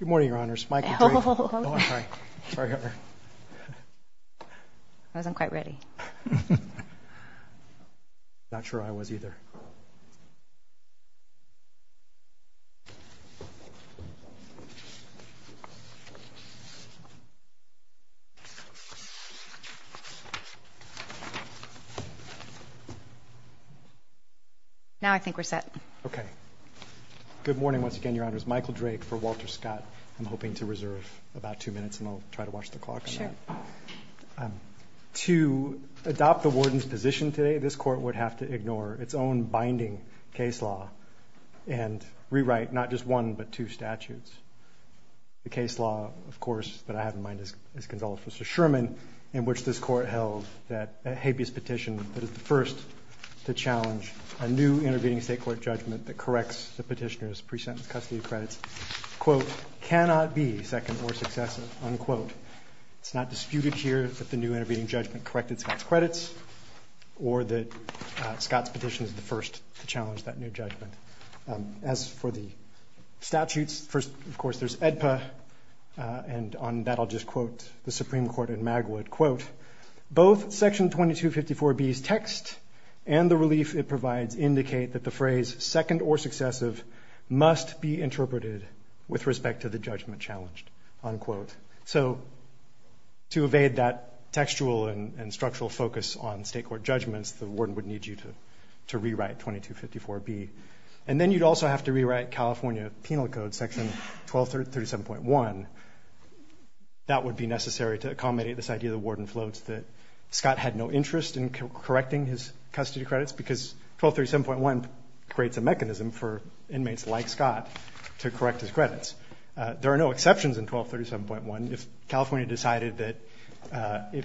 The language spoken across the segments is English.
Good morning, Your Honors. I wasn't quite ready. I'm not sure I was, either. Now I think we're set. Okay. Good morning once again, Your Honors. Michael Drake for Walter Scott. I'm hoping to reserve about two minutes and I'll try to watch the clock on that. Now, to adopt the warden's position today, this court would have to ignore its own binding case law and rewrite not just one but two statutes. The case law, of course, that I have in mind is Consultant Mr. Sherman, in which this court held that a habeas petition that is the first to challenge a new intervening State judgment, unquote. It's not disputed here that the new intervening judgment corrected Scott's credits or that Scott's petition is the first to challenge that new judgment. As for the statutes, first, of course, there's AEDPA, and on that I'll just quote the Supreme Court in Magwood, quote, both Section 2254B's text and the relief it provides indicate that the phrase second or successive must be interpreted with respect to the judgment challenged, unquote. So to evade that textual and structural focus on State court judgments, the warden would need you to rewrite 2254B. And then you'd also have to rewrite California Penal Code Section 1237.1. That would be necessary to accommodate this idea of the warden floats that Scott had no interest in correcting his custody credits because 1237.1 creates a mechanism for inmates like Scott to correct his credits. There are no exceptions in 1237.1. If California decided that,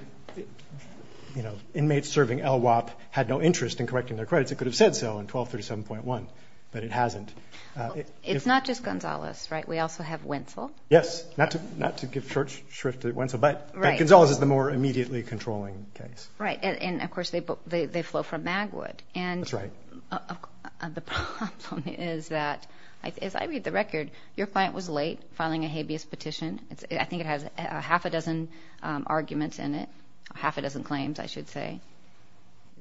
you know, inmates serving LWOP had no interest in correcting their credits, it could have said so in 1237.1, but it hasn't. It's not just Gonzales, right? We also have Wentzel. Yes. Not to give short shrift to Wentzel, but Gonzales is the more immediately controlling case. Right. And, of course, they flow from Magwood. That's right. The problem is that, as I read the record, your client was late filing a habeas petition. I think it has half a dozen arguments in it, half a dozen claims, I should say.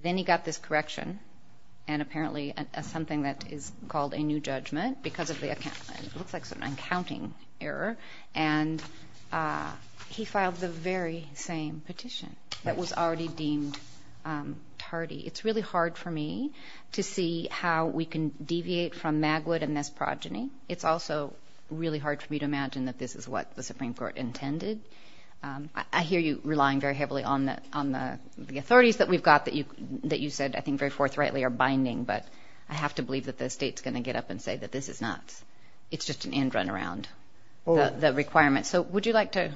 Then he got this correction, and apparently something that is called a new judgment because of the accounting error. And he filed the very same petition that was already deemed tardy. It's really hard for me to see how we can deviate from Magwood and this progeny. It's also really hard for me to imagine that this is what the Supreme Court intended. I hear you relying very heavily on the authorities that we've got that you said I think very forthrightly are binding, but I have to believe that the state's going to get up and say that this is not. It's just an end run around the requirements. So would you like to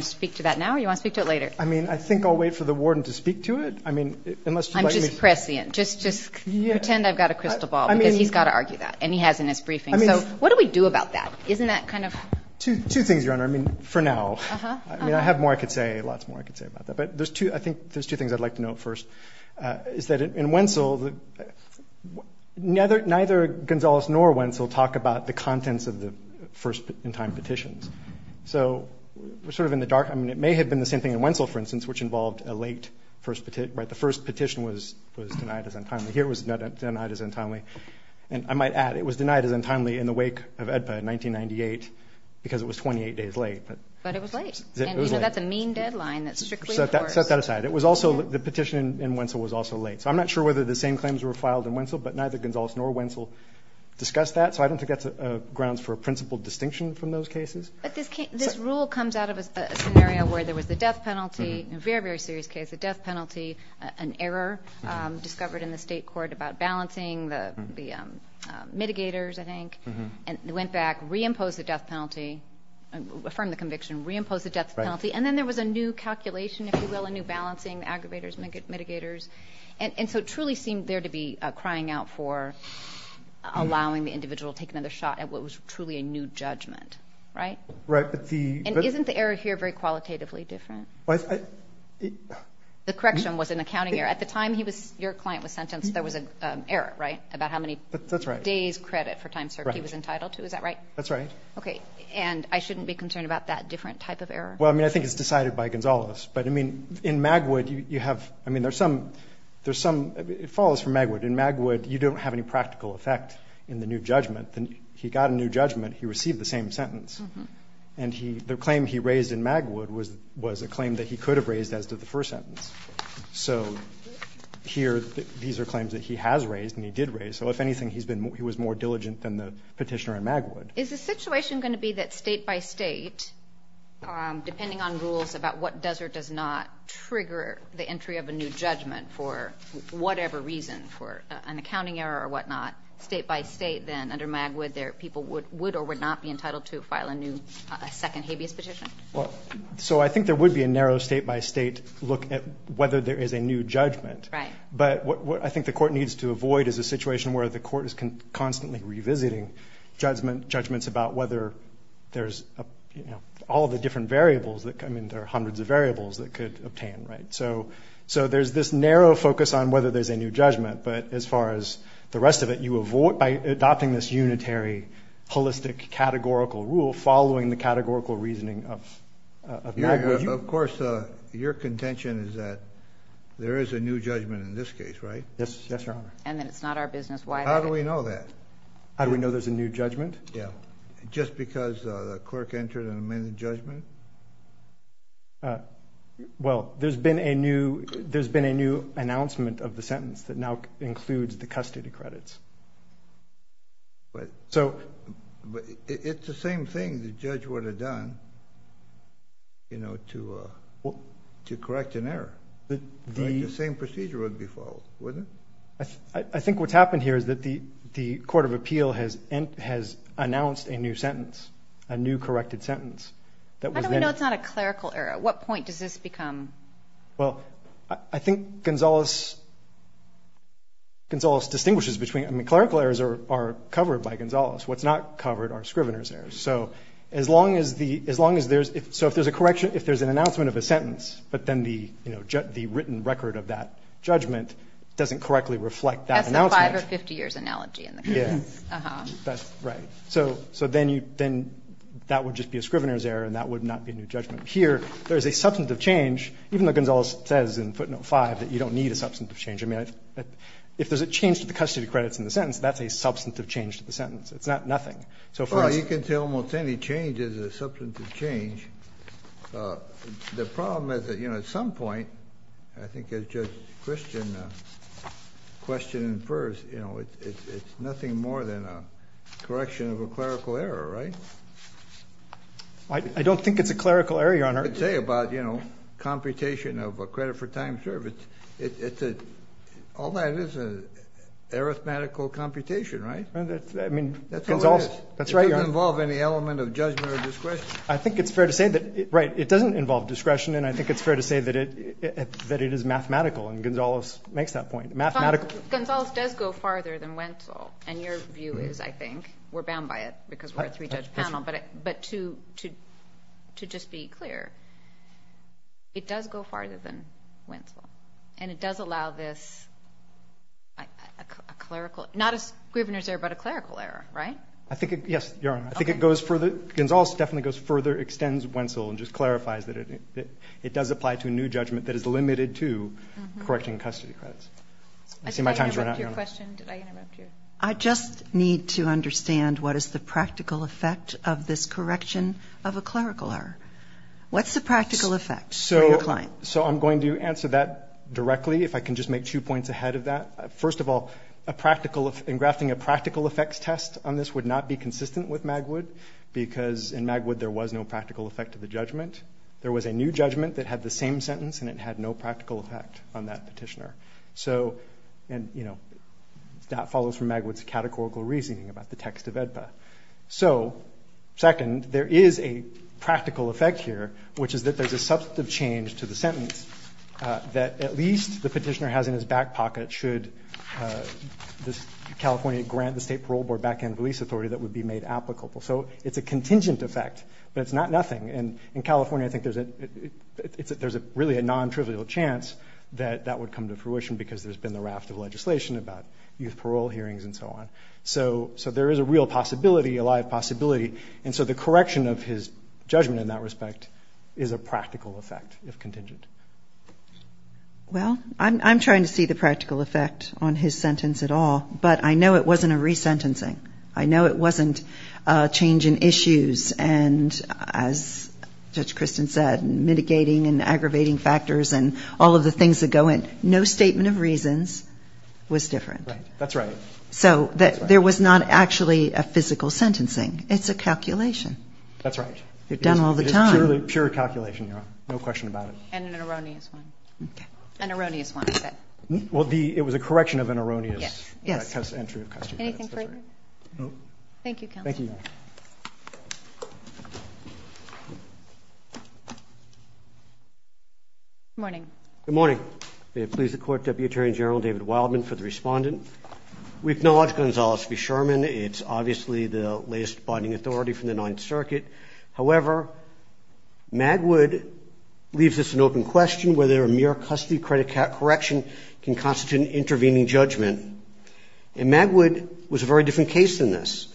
speak to that now or do you want to speak to it later? I mean, I think I'll wait for the warden to speak to it. I mean, unless you'd like me to. I'm just prescient. Just pretend I've got a crystal ball, because he's got to argue that, and he has in his briefing. So what do we do about that? Isn't that kind of? Two things, Your Honor. I mean, for now. I mean, I have more I could say, lots more I could say about that. But there's two things I'd like to note first, is that in Wentzel, neither Gonzales nor Wentzel talk about the contents of the first-in-time petitions. So we're sort of in the dark. I mean, it may have been the same thing in Wentzel, for instance, which involved a late first petition. The first petition was denied as untimely. Here it was denied as untimely. And I might add, it was denied as untimely in the wake of AEDPA in 1998 because it was 28 days late. But it was late. And, you know, that's a mean deadline that's strictly enforced. Set that aside. It was also the petition in Wentzel was also late. So I'm not sure whether the same claims were filed in Wentzel, but neither Gonzales nor Wentzel discussed that. So I don't think that's grounds for a principled distinction from those cases. But this rule comes out of a scenario where there was a death penalty, a very, very serious case, a death penalty, an error discovered in the state court about balancing the mitigators, I think. And they went back, reimposed the death penalty, affirmed the conviction, reimposed the death penalty. And then there was a new calculation, if you will, a new balancing, aggravators, mitigators. And so it truly seemed there to be crying out for allowing the individual to take another shot at what was truly a new judgment. Right? Right. And isn't the error here very qualitatively different? The correction was an accounting error. At the time your client was sentenced, there was an error, right, about how many days credit for time served he was entitled to. Is that right? That's right. Okay. And I shouldn't be concerned about that different type of error? Well, I mean, I think it's decided by Gonzales. But, I mean, in Magwood, you have ‑‑ I mean, there's some ‑‑ it follows from Magwood. In Magwood, you don't have any practical effect in the new judgment. He got a new judgment. He received the same sentence. And the claim he raised in Magwood was a claim that he could have raised as to the first sentence. So here these are claims that he has raised and he did raise. So, if anything, he was more diligent than the petitioner in Magwood. Is the situation going to be that state by state, depending on rules about what does or does not trigger the entry of a new judgment for whatever reason, for an accounting error or whatnot, state by state, then under Magwood, people would or would not be entitled to file a new second habeas petition? So I think there would be a narrow state by state look at whether there is a new judgment. Right. But what I think the court needs to avoid is a situation where the court is constantly revisiting judgments about whether there's, you know, all the different variables that come in. There are hundreds of variables that could obtain, right? So there's this narrow focus on whether there's a new judgment. But as far as the rest of it, you avoid by adopting this unitary, holistic, categorical rule following the categorical reasoning of Magwood. Of course, your contention is that there is a new judgment in this case, right? Yes, Your Honor. And that it's not our business. How do we know that? How do we know there's a new judgment? Yeah. Just because the clerk entered an amended judgment? Well, there's been a new announcement of the sentence that now includes the custody credits. But it's the same thing the judge would have done, you know, to correct an error. The same procedure would be followed, wouldn't it? I think what's happened here is that the court of appeal has announced a new sentence, How do we know it's not a clerical error? What point does this become? Well, I think Gonzales distinguishes between, I mean, clerical errors are covered by Gonzales. What's not covered are scrivener's errors. So as long as there's, so if there's a correction, if there's an announcement of a sentence, but then the written record of that judgment doesn't correctly reflect that announcement. That's the five or 50 years analogy in the case. Yeah. Uh-huh. That's right. So then you, then that would just be a scrivener's error and that would not be a new judgment. Here, there's a substantive change, even though Gonzales says in footnote 5 that you don't need a substantive change. I mean, if there's a change to the custody credits in the sentence, that's a substantive change to the sentence. It's not nothing. Well, you can say almost any change is a substantive change. The problem is that, you know, at some point, I think as Judge Christian question and infers, you know, it's nothing more than a correction of a clerical error, right? I don't think it's a clerical error, Your Honor. You could say about, you know, computation of a credit for time served. It's a, all that is an arithmetical computation, right? I mean, Gonzales. That's how it is. That's right, Your Honor. It doesn't involve any element of judgment or discretion. I think it's fair to say that, right, it doesn't involve discretion, and I think it's fair to say that it is mathematical, and Gonzales makes that point, mathematical. Gonzales does go farther than Wentzel, and your view is, I think, we're bound by it, because we're a three-judge panel, but to just be clear, it does go farther than Wentzel, and it does allow this, a clerical, not a scrivener's error, but a clerical error, right? I think it, yes, Your Honor. I think it goes further, Gonzales definitely goes further, extends Wentzel, and just clarifies that it does apply to a new judgment that is limited to correcting custody credits. I see my time's running out. Did I interrupt your question? Did I interrupt your? I just need to understand what is the practical effect of this correction of a clerical error. What's the practical effect for your client? So I'm going to answer that directly, if I can just make two points ahead of that. First of all, a practical, engrafting a practical effects test on this would not be consistent with Magwood, because in Magwood there was no practical effect of the judgment. There was a new judgment that had the same sentence, and it had no practical effect on that petitioner. So, and, you know, that follows from Magwood's categorical reasoning about the text of AEDPA. So, second, there is a practical effect here, which is that there's a substantive change to the sentence that at least the petitioner has in his back pocket should California grant the State Parole Board back-end release authority that would be made applicable. So it's a contingent effect, but it's not nothing. And in California I think there's a really non-trivial chance that that would come to fruition because there's been the raft of legislation about youth parole hearings and so on. So there is a real possibility, a live possibility. And so the correction of his judgment in that respect is a practical effect, if contingent. Well, I'm trying to see the practical effect on his sentence at all, but I know it wasn't a resentencing. I know it wasn't a change in issues and, as Judge Christin said, mitigating and aggravating factors and all of the things that go in. No statement of reasons was different. Right. That's right. So there was not actually a physical sentencing. It's a calculation. That's right. You're done all the time. It is purely pure calculation, Your Honor. No question about it. And an erroneous one. Okay. An erroneous one. Well, it was a correction of an erroneous entry of custody. Anything further? No. Thank you, Counsel. Thank you. Good morning. Good morning. May it please the Court, Deputy Attorney General David Wildman for the respondent. We acknowledge Gonzales v. Sherman. It's obviously the latest binding authority from the Ninth Circuit. However, Magwood leaves this an open question whether a mere custody credit correction can constitute an intervening judgment. And Magwood was a very different case than this.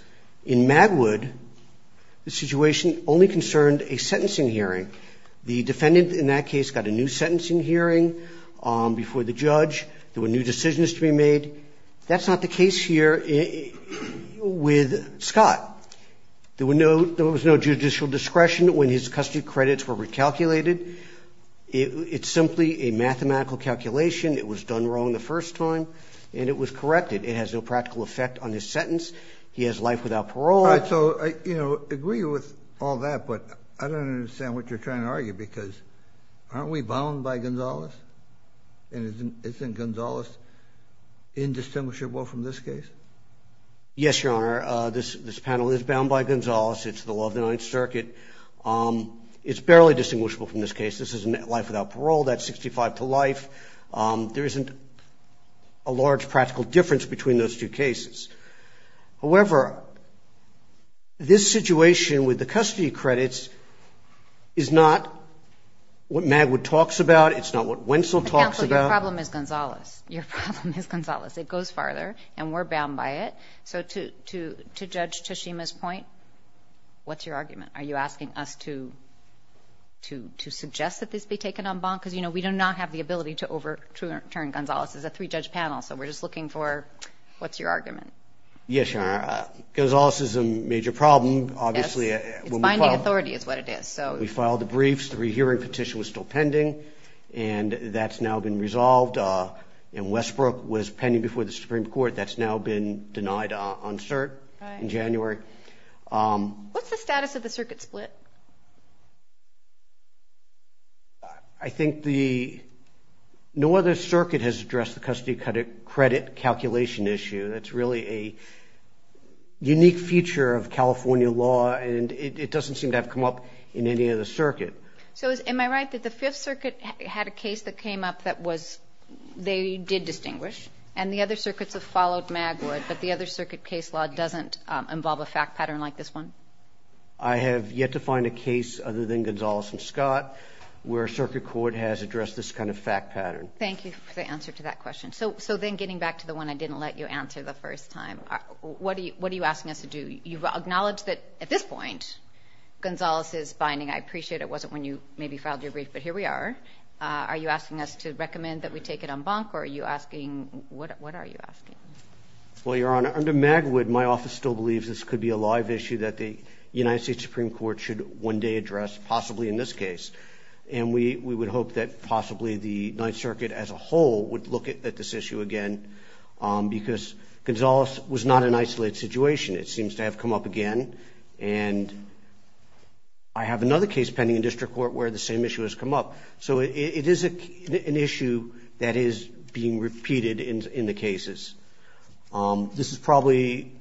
In Magwood, the situation only concerned a sentencing hearing. The defendant in that case got a new sentencing hearing before the judge. There were new decisions to be made. That's not the case here with Scott. There was no judicial discretion when his custody credits were recalculated. It's simply a mathematical calculation. It was done wrong the first time, and it was corrected. It has no practical effect on his sentence. He has life without parole. All right. So, you know, I agree with all that, but I don't understand what you're trying to argue because aren't we bound by Gonzales? And isn't Gonzales indistinguishable from this case? Yes, Your Honor. This panel is bound by Gonzales. It's the law of the Ninth Circuit. It's barely distinguishable from this case. This is life without parole. That's 65 to life. There isn't a large practical difference between those two cases. However, this situation with the custody credits is not what Magwood talks about. It's not what Wentzel talks about. Counsel, your problem is Gonzales. Your problem is Gonzales. It goes farther, and we're bound by it. So to Judge Tashima's point, what's your argument? Are you asking us to suggest that this be taken en banc? Because, you know, we do not have the ability to overturn Gonzales. It's a three-judge panel, so we're just looking for what's your argument. Yes, Your Honor. Gonzales is a major problem, obviously. It's binding authority is what it is. We filed the briefs. The rehearing petition was still pending, and that's now been resolved. And Westbrook was pending before the Supreme Court. That's now been denied on cert in January. What's the status of the circuit split? I think no other circuit has addressed the custody credit calculation issue. That's really a unique feature of California law, and it doesn't seem to have come up in any other circuit. So am I right that the Fifth Circuit had a case that came up that they did distinguish, and the other circuits have followed Magwood, but the other circuit case law doesn't involve a fact pattern like this one? I have yet to find a case other than Gonzales and Scott where a circuit court has addressed this kind of fact pattern. Thank you for the answer to that question. So then getting back to the one I didn't let you answer the first time, what are you asking us to do? You've acknowledged that at this point Gonzales is binding. I appreciate it wasn't when you maybe filed your brief, but here we are. Are you asking us to recommend that we take it en banc, or are you asking what are you asking? Well, Your Honor, under Magwood my office still believes this could be a live issue that the United States Supreme Court should one day address, possibly in this case, and we would hope that possibly the Ninth Circuit as a whole would look at this issue again because Gonzales was not an isolated situation. It seems to have come up again, and I have another case pending in district court where the same issue has come up. So it is an issue that is being repeated in the cases. This is probably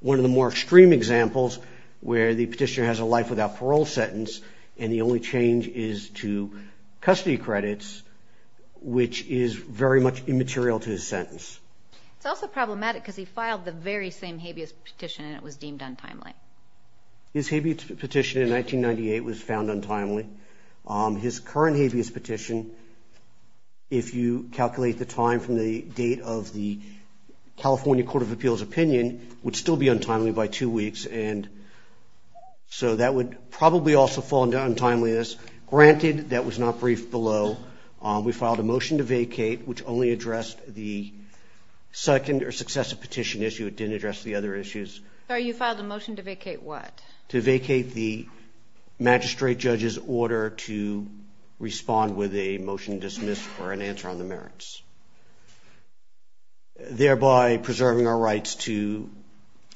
one of the more extreme examples where the petitioner has a life without parole sentence and the only change is to custody credits, which is very much immaterial to his sentence. It's also problematic because he filed the very same habeas petition and it was deemed untimely. His habeas petition in 1998 was found untimely. His current habeas petition, if you calculate the time from the date of the California Court of Appeals opinion, would still be untimely by two weeks, and so that would probably also fall into untimeliness. Granted, that was not briefed below. We filed a motion to vacate, which only addressed the second or successive petition issue. It didn't address the other issues. Sir, you filed a motion to vacate what? To vacate the magistrate judge's order to respond with a motion dismissed for an answer on the merits, thereby preserving our rights to,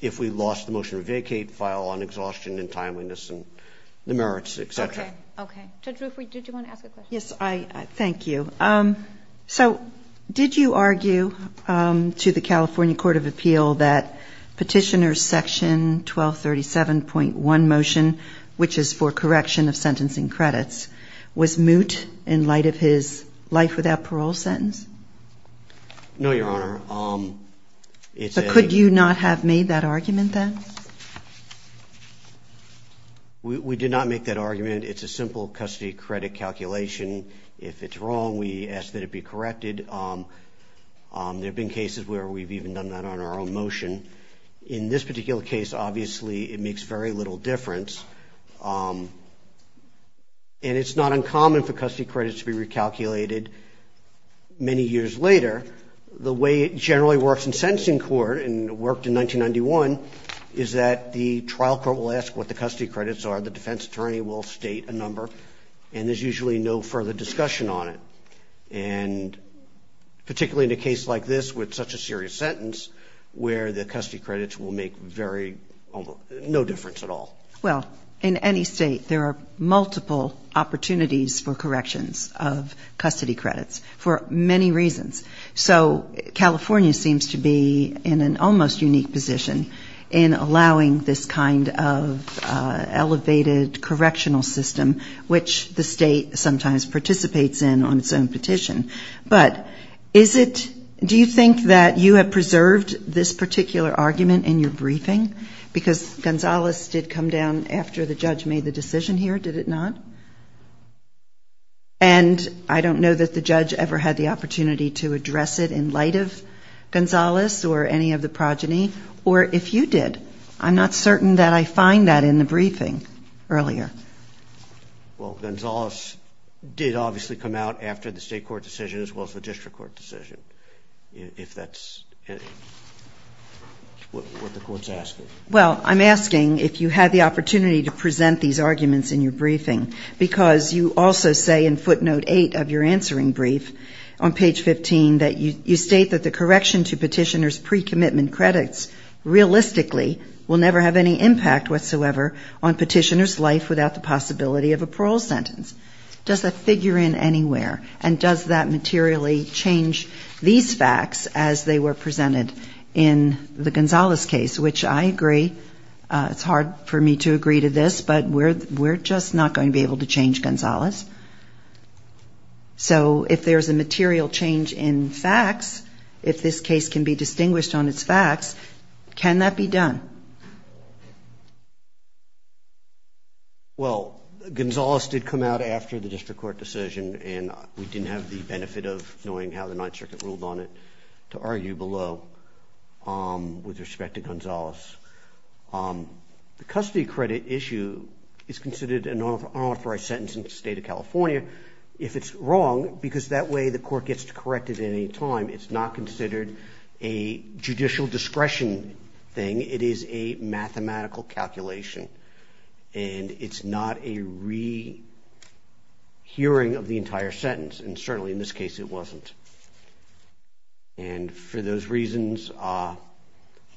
if we lost the motion to vacate, file on exhaustion and timeliness and the merits, et cetera. Okay, okay. Judge Ruffrey, did you want to ask a question? Yes, thank you. So did you argue to the California Court of Appeals that Petitioner's Section 1237.1 motion, which is for correction of sentencing credits, was moot in light of his life without parole sentence? No, Your Honor. But could you not have made that argument then? We did not make that argument. It's a simple custody credit calculation. If it's wrong, we ask that it be corrected. There have been cases where we've even done that on our own motion. In this particular case, obviously, it makes very little difference, and it's not uncommon for custody credits to be recalculated many years later. The way it generally works in sentencing court, and it worked in 1991, is that the trial court will ask what the custody credits are, the defense attorney will state a number, and there's usually no further discussion on it, and particularly in a case like this with such a serious sentence, where the custody credits will make no difference at all. Well, in any state, there are multiple opportunities for corrections of custody credits for many reasons. So California seems to be in an almost unique position in allowing this kind of elevated correctional system, which the state sometimes participates in on its own petition. But do you think that you have preserved this particular argument in your briefing? Because Gonzales did come down after the judge made the decision here, did it not? And I don't know that the judge ever had the opportunity to address it in light of Gonzales or any of the progeny. Or if you did, I'm not certain that I find that in the briefing earlier. Well, Gonzales did obviously come out after the state court decision as well as the district court decision, if that's what the court's asking. Well, I'm asking if you had the opportunity to present these arguments in your briefing, because you also say in footnote 8 of your answering brief on page 15 that you state that the correction to petitioner's pre-commitment credits realistically will never have any impact whatsoever on petitioner's life without the possibility of a parole sentence. Does that figure in anywhere? And does that materially change these facts as they were presented in the Gonzales case? Which I agree, it's hard for me to agree to this, but we're just not going to be able to change Gonzales. So if there's a material change in facts, if this case can be distinguished on its facts, can that be done? Well, Gonzales did come out after the district court decision, and we didn't have the benefit of knowing how the Ninth Circuit ruled on it to argue below with respect to Gonzales. The custody credit issue is considered an unauthorized sentence in the state of California. If it's wrong, because that way the court gets to correct it at any time, it's not considered a judicial discretion thing. It is a mathematical calculation, and it's not a rehearing of the entire sentence, and certainly in this case it wasn't. And for those reasons, I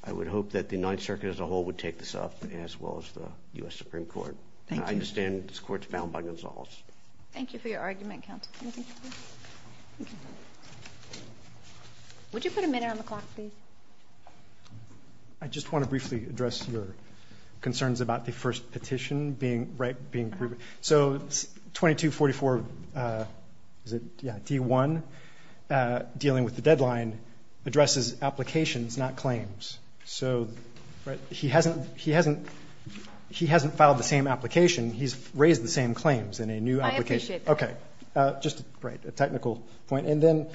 would hope that the Ninth Circuit as a whole would take this up, as well as the U.S. Supreme Court. Thank you. I understand this court's bound by Gonzales. Thank you for your argument, counsel. Would you put a minute on the clock, please? I just want to briefly address your concerns about the first petition being right, being proven. So 2244, is it? Yeah, D-1, dealing with the deadline, addresses applications, not claims. So he hasn't filed the same application. He's raised the same claims in a new application. I appreciate that. Okay. Just a technical point. And then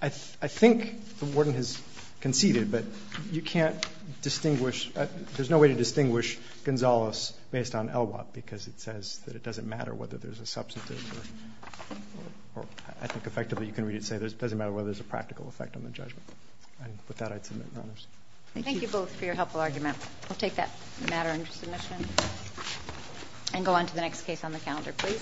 I think the warden has conceded, but you can't distinguish. There's no way to distinguish Gonzales based on Elwott, because it says that it doesn't matter whether there's a substantive or I think effectively you can really say it doesn't matter whether there's a practical effect on the judgment. And with that, I'd submit Rohners. Thank you. Thank you both for your helpful argument. We'll take that matter under submission and go on to the next case on the calendar, please.